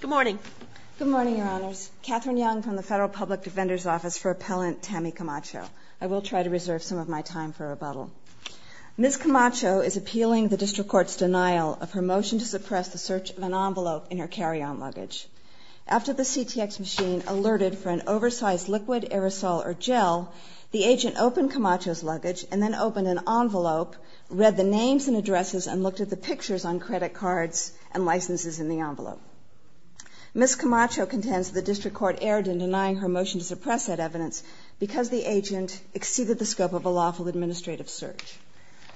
Good morning. Good morning, Your Honors. Katherine Young from the Federal Public Defender's Office for Appellant Tammi Camacho. I will try to reserve some of my time for rebuttal. Ms. Camacho is appealing the District Court's denial of her motion to suppress the search of an envelope in her carry-on luggage. After the CTX machine alerted for an oversized liquid, aerosol, or gel, the agent opened Camacho's luggage and then opened an envelope, read the names and addresses, and looked at the pictures on credit cards and licenses in the envelope. Ms. Camacho contends the District Court erred in denying her motion to suppress that evidence because the agent exceeded the scope of a lawful administrative search.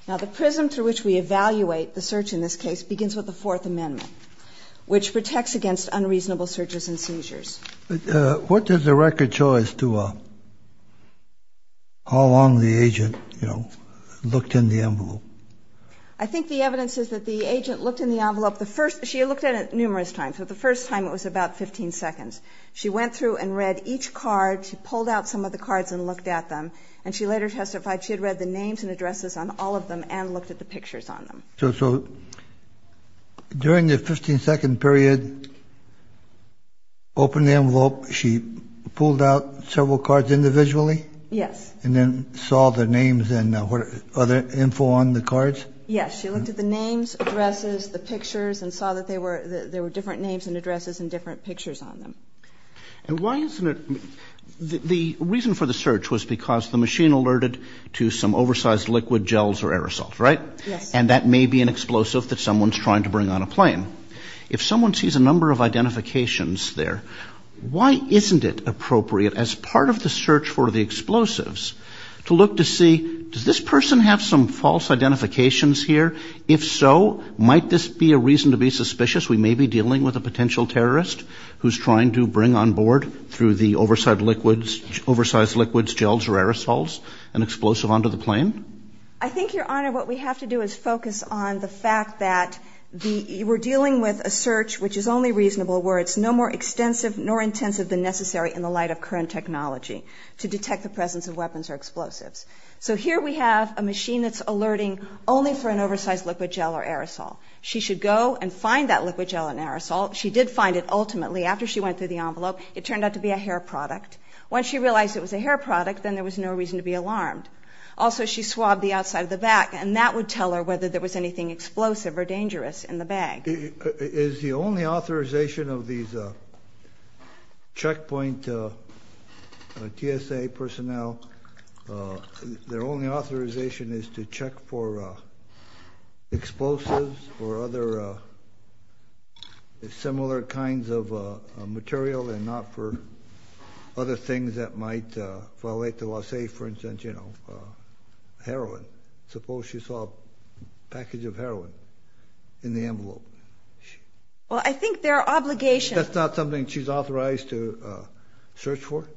Now, the prism through which we evaluate the search in this case begins with the Fourth Amendment, which protects against unreasonable searches and seizures. What does the record show as to how long the agent, you know, looked in the envelope? I think the evidence is that the agent looked in the envelope the first – she had looked at it numerous times, but the first time it was about 15 seconds. She went through and read each card, she pulled out some of the cards and looked at them, and she later testified she had read the names and addresses on all of them and looked at the pictures on them. So during the 15-second period, open the envelope, she pulled out several cards individually? Yes. And then saw the names and other info on the cards? Yes, she looked at the names, addresses, the pictures, and saw that there were different names and addresses and different pictures on them. And why isn't it – the reason for the search was because the machine alerted to some oversized liquid, gels, or aerosols, right? Yes. And that may be an explosive that someone's trying to bring on a plane. If someone sees a number of identifications there, why isn't it appropriate as part of the search for the explosives to look to see, does this person have some false identifications here? If so, might this be a reason to be suspicious we may be dealing with a potential terrorist who's trying to bring on board through the oversized liquids, gels, or aerosols an explosive onto the plane? I think, Your Honor, what we have to do is focus on the fact that we're dealing with a search which is only reasonable where it's no more extensive nor intensive than necessary in the light of current technology to detect the presence of weapons or explosives. So here we have a machine that's alerting only for an oversized liquid, gel, or aerosol. She should go and find that liquid, gel, or aerosol. She did find it ultimately after she went through the envelope. It turned out to be a hair product. Once she realized it was a hair product, then there was no reason to be alarmed. Also, she swabbed the outside of the bag, and that would tell her whether there was anything explosive or dangerous in the bag. Is the only authorization of these checkpoint TSA personnel, their only authorization is to check for explosives or other similar kinds of material and not for other things that might violate the law? Say, for instance, you know, heroin. Suppose she saw a package of heroin in the envelope. Well, I think their obligation... That's not something she's authorized to search for?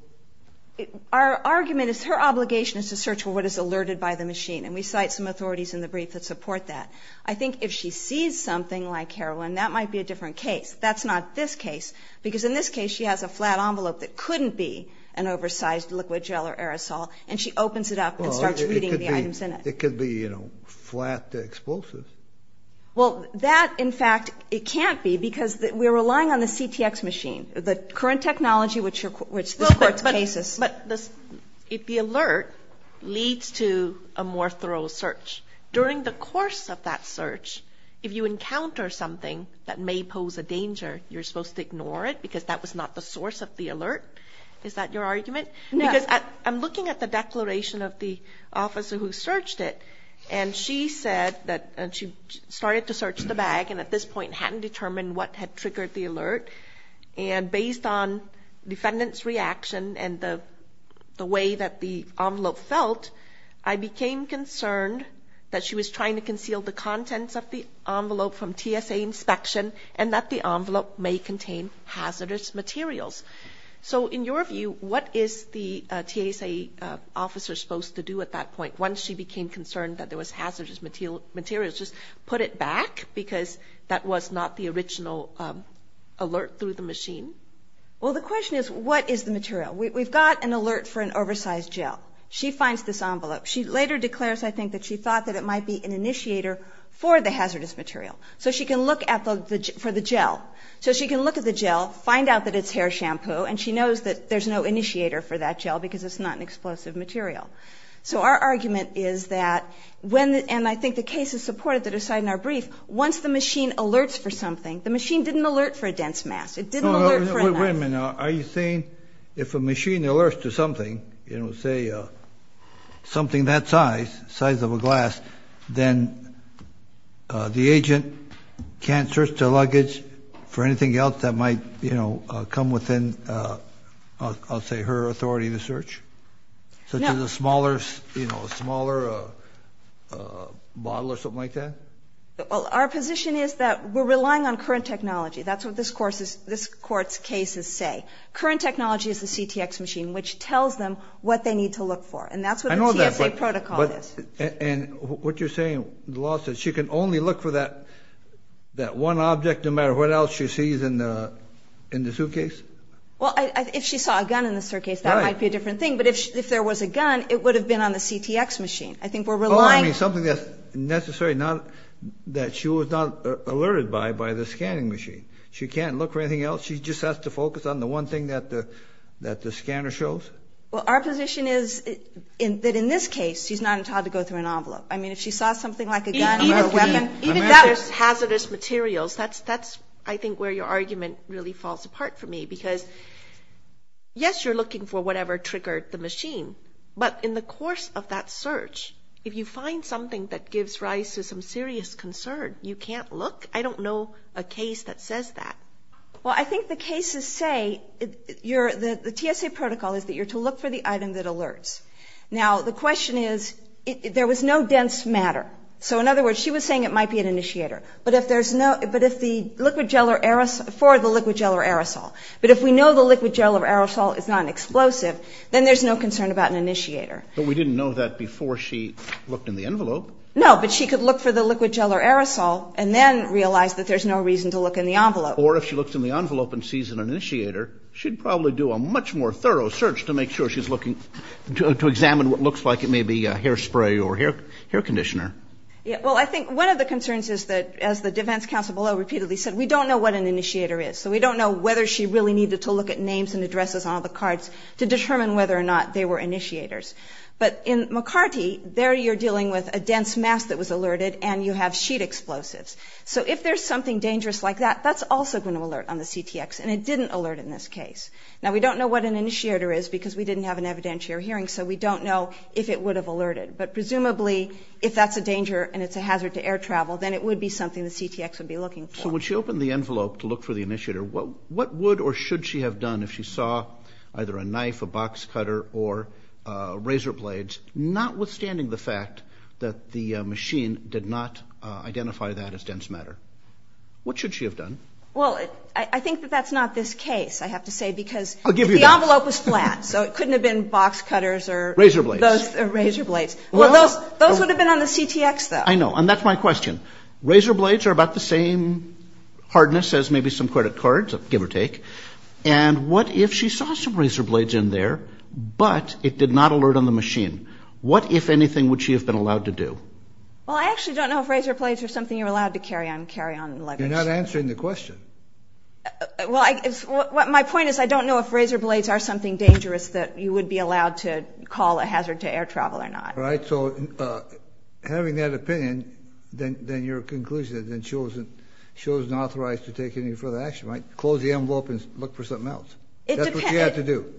Our argument is her obligation is to search for what is alerted by the machine, and we cite some authorities in the brief that support that. I think if she sees something like heroin, that might be a different case. That's not this case, because in this case she has a flat envelope that couldn't be an oversized liquid gel or aerosol, and she opens it up and starts reading the items in it. It could be, you know, flat explosives. Well, that, in fact, it can't be because we're relying on the CTX machine, the current technology which supports cases. But the alert leads to a more thorough search. During the course of that search, if you encounter something that may pose a danger, you're supposed to ignore it because that was not the source of the alert? Is that your argument? Because I'm looking at the declaration of the officer who searched it, and she said that she started to search the bag and at this point hadn't determined what had triggered the alert, and based on defendant's reaction and the way that the envelope felt, I became concerned that she was trying to conceal the contents of the envelope from TSA inspection and that the envelope may contain hazardous materials. So in your view, what is the TSA officer supposed to do at that point once she became concerned that there was hazardous materials? Just put it back because that was not the original alert through the machine? Well, the question is, what is the material? We've got an alert for an oversized gel. She finds this envelope. She later declares, I think, that she thought that it might be an initiator for the hazardous material. So she can look for the gel. So she can look at the gel, find out that it's hair shampoo, and she knows that there's no initiator for that gel because it's not an explosive material. So our argument is that when, and I think the case is supported that aside in our brief, once the machine alerts for something, the machine didn't alert for a dense mass. It didn't alert for a mass. Wait a minute. Are you saying if a machine alerts to something, you know, say something that size, size of a glass, then the agent can't search the luggage for anything else that might, you know, come within, I'll say, her authority to search? No. Such as a smaller, you know, a smaller bottle or something like that? Our position is that we're relying on current technology. That's what this Court's cases say. Current technology is the CTX machine, which tells them what they need to look for. And that's what the TSA protocol is. And what you're saying, the law says she can only look for that one object, no matter what else she sees in the suitcase? Well, if she saw a gun in the suitcase, that might be a different thing. But if there was a gun, it would have been on the CTX machine. Oh, I mean, something that's necessary, that she was not alerted by, by the scanning machine. She can't look for anything else? She just has to focus on the one thing that the scanner shows? Well, our position is that in this case, she's not entitled to go through an envelope. I mean, if she saw something like a gun or a weapon, even if that was hazardous materials, that's, I think, where your argument really falls apart for me. Because, yes, you're looking for whatever triggered the machine. But in the course of that search, if you find something that gives rise to some serious concern, you can't look? I don't know a case that says that. Well, I think the cases say you're, the TSA protocol is that you're to look for the item that alerts. Now, the question is, there was no dense matter. So, in other words, she was saying it might be an initiator. But if there's no, but if the liquid gel or aerosol, for the liquid gel or aerosol, but if we know the liquid gel or aerosol is not an explosive, then there's no concern about an initiator. But we didn't know that before she looked in the envelope. No, but she could look for the liquid gel or aerosol and then realize that there's no reason to look in the envelope. Or if she looks in the envelope and sees an initiator, she'd probably do a much more thorough search to make sure she's looking, to examine what looks like it may be hairspray or hair conditioner. Well, I think one of the concerns is that, as the defense counsel below repeatedly said, we don't know what an initiator is. So we don't know whether she really needed to look at names and addresses on all the cards to determine whether or not they were initiators. But in McCarty, there you're dealing with a dense mass that was alerted, and you have sheet explosives. So if there's something dangerous like that, that's also going to alert on the CTX, and it didn't alert in this case. Now, we don't know what an initiator is because we didn't have an evidentiary hearing, so we don't know if it would have alerted. But presumably, if that's a danger and it's a hazard to air travel, then it would be something the CTX would be looking for. Also, when she opened the envelope to look for the initiator, what would or should she have done if she saw either a knife, a box cutter, or razor blades, notwithstanding the fact that the machine did not identify that as dense matter? What should she have done? Well, I think that that's not this case, I have to say, because the envelope was flat, so it couldn't have been box cutters or razor blades. Those would have been on the CTX, though. I know, and that's my question. Razor blades are about the same hardness as maybe some credit cards, give or take, and what if she saw some razor blades in there, but it did not alert on the machine? What, if anything, would she have been allowed to do? Well, I actually don't know if razor blades are something you're allowed to carry on luggage. You're not answering the question. Well, my point is I don't know if razor blades are something dangerous that you would be allowed to call a hazard to air travel or not. All right, so having that opinion, then your conclusion is that she wasn't authorized to take any further action, right? Close the envelope and look for something else. That's what she had to do.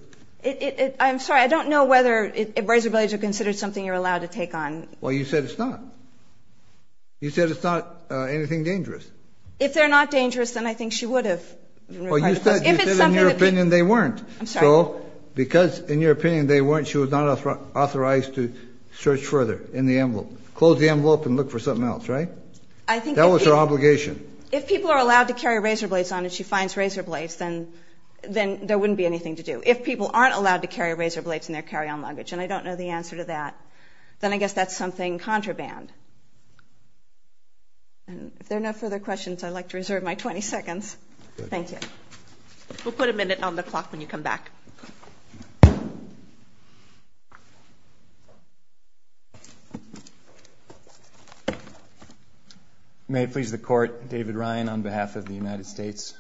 I'm sorry, I don't know whether razor blades are considered something you're allowed to take on. Well, you said it's not. You said it's not anything dangerous. If they're not dangerous, then I think she would have. Well, you said in your opinion they weren't. I'm sorry. So because in your opinion they weren't, she was not authorized to search further in the envelope. Close the envelope and look for something else, right? That was her obligation. If people are allowed to carry razor blades on and she finds razor blades, then there wouldn't be anything to do. If people aren't allowed to carry razor blades in their carry-on luggage, and I don't know the answer to that, then I guess that's something contraband. If there are no further questions, I'd like to reserve my 20 seconds. Thank you. We'll put a minute on the clock when you come back. May it please the Court, David Ryan on behalf of the United States.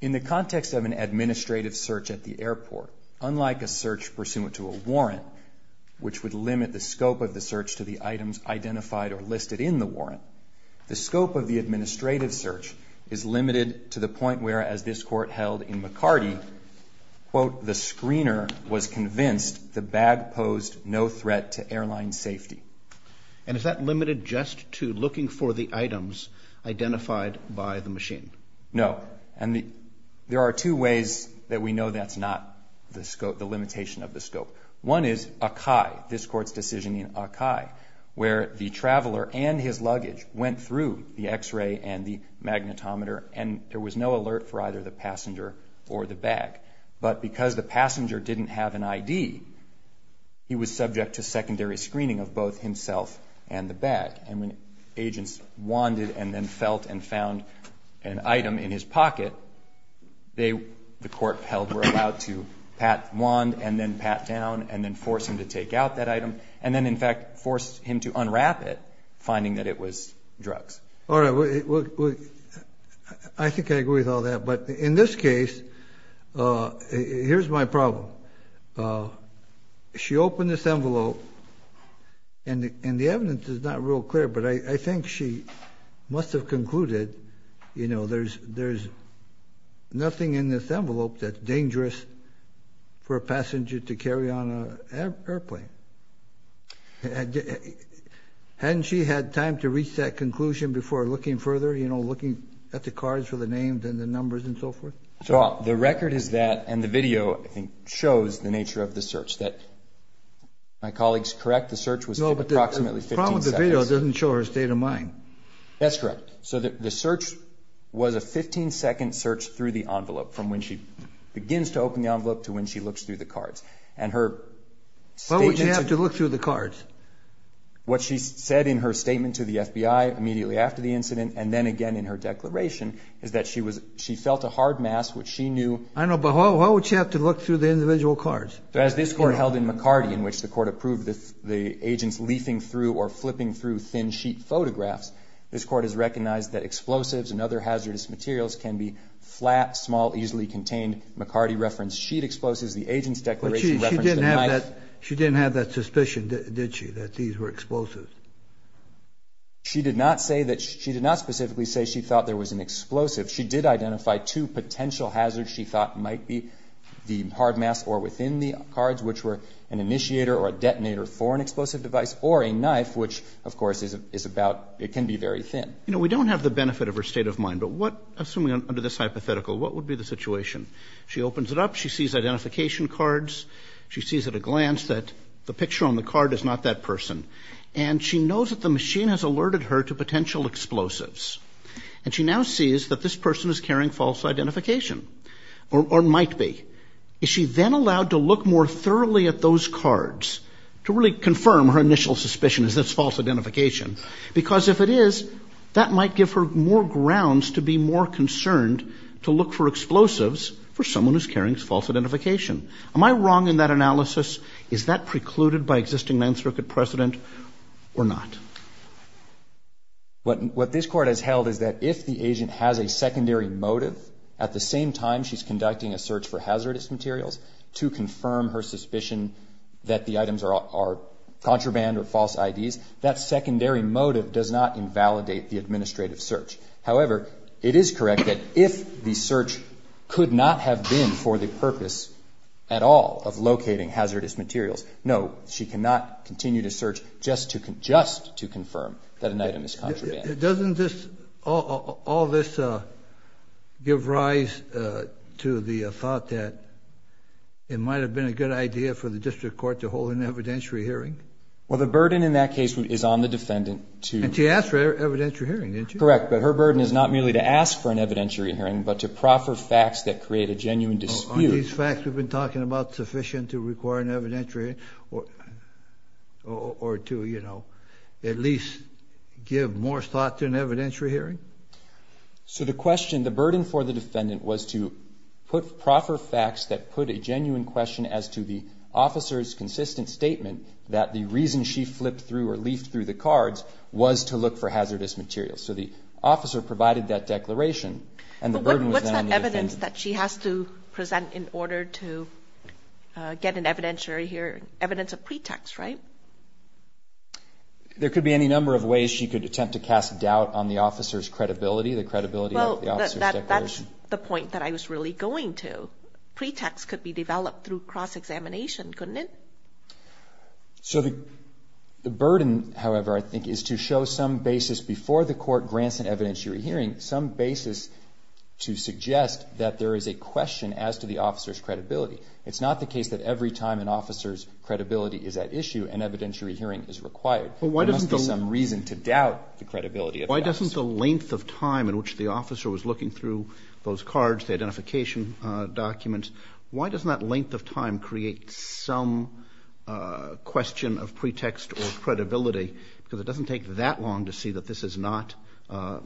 In the context of an administrative search at the airport, unlike a search pursuant to a warrant, which would limit the scope of the search to the items identified or listed in the warrant, the scope of the administrative search is limited to the point where, as this Court held in McCarty, quote, the screener was convinced the bag posed no threat to airline safety. And is that limited just to looking for the items identified by the machine? No. And there are two ways that we know that's not the limitation of the scope. One is Akai, this Court's decision in Akai, where the traveler and his luggage went through the X-ray and the magnetometer, and there was no alert for either the passenger or the bag. But because the passenger didn't have an ID, he was subject to secondary screening of both himself and the bag. And when agents wanded and then felt and found an item in his pocket, they, the Court held, were allowed to pat wand and then pat down and then force him to take out that item and then, in fact, force him to unwrap it, finding that it was drugs. All right. I think I agree with all that. But in this case, here's my problem. She opened this envelope, and the evidence is not real clear, but I think she must have concluded, you know, there's nothing in this envelope that's dangerous for a passenger to carry on an airplane. Hadn't she had time to reach that conclusion before looking further, you know, looking at the cards for the names and the numbers and so forth? Well, the record is that, and the video, I think, shows the nature of the search. The search was approximately 15 seconds. The problem with the video doesn't show her state of mind. That's correct. So the search was a 15-second search through the envelope, from when she begins to open the envelope to when she looks through the cards. And her statement to the – Why would she have to look through the cards? What she said in her statement to the FBI immediately after the incident and then again in her declaration is that she felt a hard mass which she knew – I know, but why would she have to look through the individual cards? As this Court held in McCarty, in which the Court approved the agents leafing through or flipping through thin-sheet photographs, this Court has recognized that explosives and other hazardous materials can be flat, small, easily contained. McCarty referenced sheet explosives. The agent's declaration referenced a knife. But she didn't have that suspicion, did she, that these were explosives? She did not say that – she did not specifically say she thought there was an explosive. or a detonator for an explosive device, or a knife, which, of course, is about – it can be very thin. You know, we don't have the benefit of her state of mind, but what – assuming under this hypothetical, what would be the situation? She opens it up. She sees identification cards. She sees at a glance that the picture on the card is not that person. And she knows that the machine has alerted her to potential explosives. And she now sees that this person is carrying false identification, or might be. Is she then allowed to look more thoroughly at those cards to really confirm her initial suspicion is that it's false identification? Because if it is, that might give her more grounds to be more concerned to look for explosives for someone who's carrying false identification. Am I wrong in that analysis? Is that precluded by existing Ninth Circuit precedent or not? What this Court has held is that if the agent has a secondary motive, at the same time she's conducting a search for hazardous materials, to confirm her suspicion that the items are contraband or false IDs, that secondary motive does not invalidate the administrative search. However, it is correct that if the search could not have been for the purpose at all of locating hazardous materials, no, she cannot continue to search just to confirm that an item is contraband. Doesn't all this give rise to the thought that it might have been a good idea for the District Court to hold an evidentiary hearing? Well, the burden in that case is on the defendant to... And she asked for an evidentiary hearing, didn't she? Correct, but her burden is not merely to ask for an evidentiary hearing, but to proffer facts that create a genuine dispute. Are these facts we've been talking about sufficient to require an evidentiary hearing, or to, you know, at least give more thought to an evidentiary hearing? So the question, the burden for the defendant was to proffer facts that put a genuine question as to the officer's consistent statement that the reason she flipped through or leafed through the cards was to look for hazardous materials. So the officer provided that declaration, and the burden was then on the defendant. There's evidence that she has to present in order to get an evidentiary hearing, evidence of pretext, right? There could be any number of ways she could attempt to cast doubt on the officer's credibility, the credibility of the officer's declaration. Well, that's the point that I was really going to. Pretext could be developed through cross-examination, couldn't it? So the burden, however, I think, is to show some basis before the court grants an evidentiary hearing, some basis to suggest that there is a question as to the officer's credibility. It's not the case that every time an officer's credibility is at issue, an evidentiary hearing is required. There must be some reason to doubt the credibility of the officer. Why doesn't the length of time in which the officer was looking through those cards, the identification documents, why doesn't that length of time create some question of pretext or credibility? Because it doesn't take that long to see that this is not an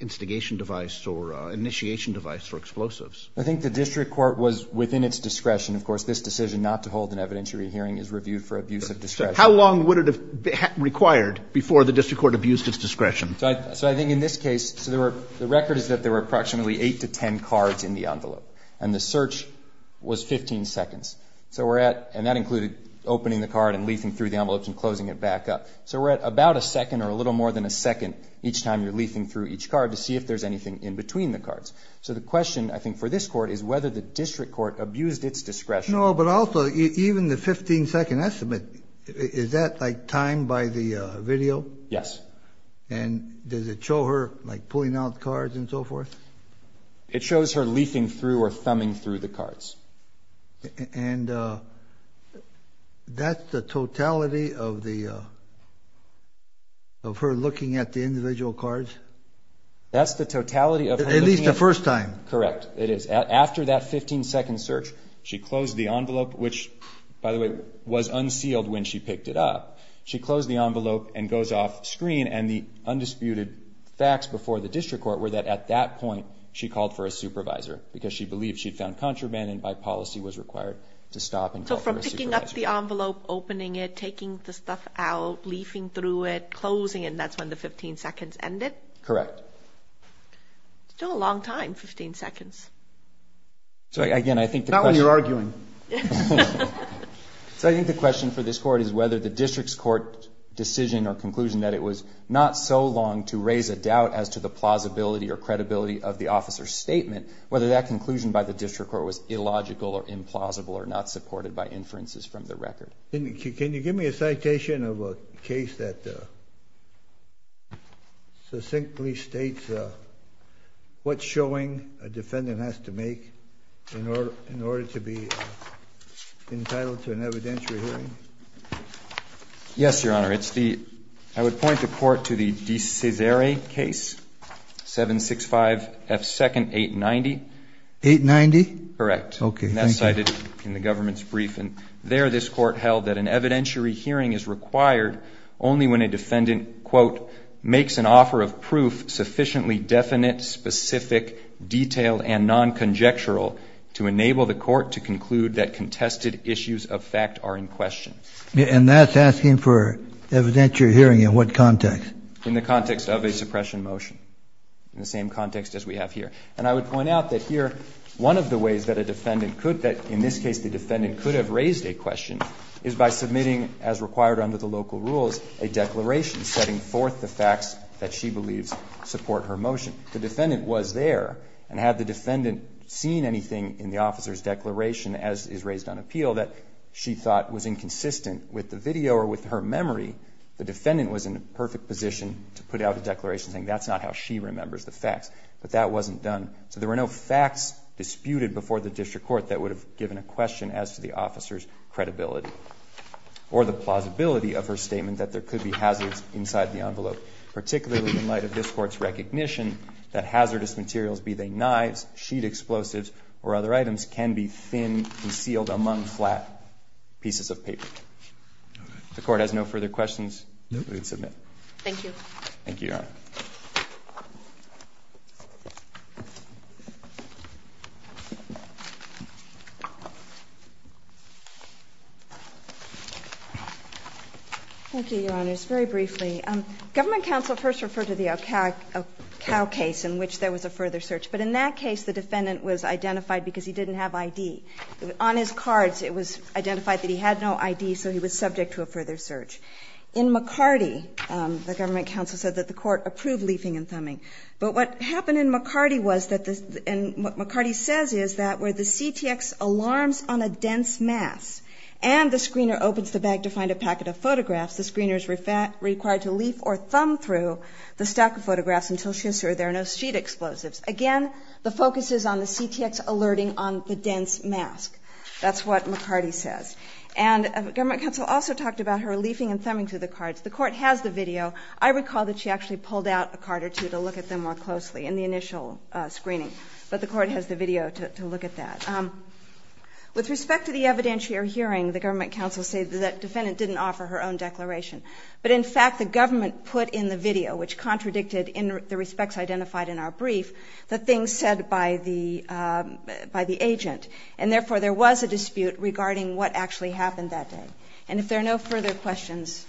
instigation device or initiation device for explosives. I think the district court was within its discretion. Of course, this decision not to hold an evidentiary hearing is reviewed for abuse of discretion. How long would it have required before the district court abused its discretion? So I think in this case, the record is that there were approximately 8 to 10 cards in the envelope, and the search was 15 seconds. And that included opening the card and leafing through the envelope and closing it back up. So we're at about a second or a little more than a second each time you're leafing through each card to see if there's anything in between the cards. So the question, I think, for this court is whether the district court abused its discretion. No, but also even the 15-second estimate, is that timed by the video? Yes. And does it show her pulling out cards and so forth? It shows her leafing through or thumbing through the cards. And that's the totality of her looking at the individual cards? That's the totality of her looking at the individual cards. At least the first time. Correct. It is. After that 15-second search, she closed the envelope, which, by the way, was unsealed when she picked it up. She closed the envelope and goes off screen, and the undisputed facts before the district court were that at that point she called for a supervisor because she believed she'd found contraband and by policy was required to stop and call for a supervisor. So from picking up the envelope, opening it, taking the stuff out, leafing through it, closing it, and that's when the 15 seconds ended? Correct. Still a long time, 15 seconds. Not when you're arguing. So I think the question for this court is whether the district's court decision or conclusion that it was not so long to raise a doubt as to the plausibility or credibility of the officer's statement, whether that conclusion by the district court was illogical or implausible or not supported by inferences from the record. Can you give me a citation of a case that succinctly states what showing a defendant has to make in order to be entitled to an evidentiary hearing? Yes, Your Honor. I would point the court to the De Cesare case, 765F2nd 890. 890? Correct. Okay, thank you. And that's cited in the government's brief, and there this court held that an evidentiary hearing is required only when a defendant, quote, sufficiently definite, specific, detailed, and non-conjectural to enable the court to conclude that contested issues of fact are in question. And that's asking for evidentiary hearing in what context? In the context of a suppression motion, in the same context as we have here. And I would point out that here one of the ways that a defendant could, that in this case the defendant could have raised a question, is by submitting, as required under the local rules, a declaration setting forth the facts that she believes support her motion. The defendant was there, and had the defendant seen anything in the officer's declaration, as is raised on appeal, that she thought was inconsistent with the video or with her memory, the defendant was in a perfect position to put out a declaration saying that's not how she remembers the facts. But that wasn't done. So there were no facts disputed before the district court that would have given a question as to the officer's credibility or the plausibility of her statement that there could be hazards inside the envelope, particularly in light of this Court's recognition that hazardous materials, be they knives, sheet explosives, or other items, can be thin, concealed among flat pieces of paper. The Court has no further questions? No. Thank you. Thank you, Your Honor. Thank you, Your Honors. Very briefly. Government counsel first referred to the O'Kell case in which there was a further search. But in that case, the defendant was identified because he didn't have ID. On his cards, it was identified that he had no ID, so he was subject to a further search. In McCarty, the government counsel said that the Court approved leafing and thumbing. But what happened in McCarty was that, and what McCarty says is that, where the CTX alarms on a dense mass and the screener opens the bag to find a packet of photographs, the screener is required to leaf or thumb through the stack of photographs until she assures there are no sheet explosives. Again, the focus is on the CTX alerting on the dense mask. That's what McCarty says. And government counsel also talked about her leafing and thumbing through the cards. The Court has the video. I recall that she actually pulled out a card or two to look at them more closely in the initial screening. But the Court has the video to look at that. With respect to the evidentiary hearing, the government counsel said that the defendant didn't offer her own declaration. But in fact, the government put in the video, which contradicted the respects identified in our brief, the things said by the agent. And therefore, there was a dispute regarding what actually happened that day. And if there are no further questions,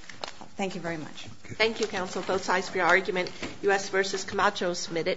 thank you very much. Thank you, counsel. Both sides for your argument. U.S. v. Camacho submitted.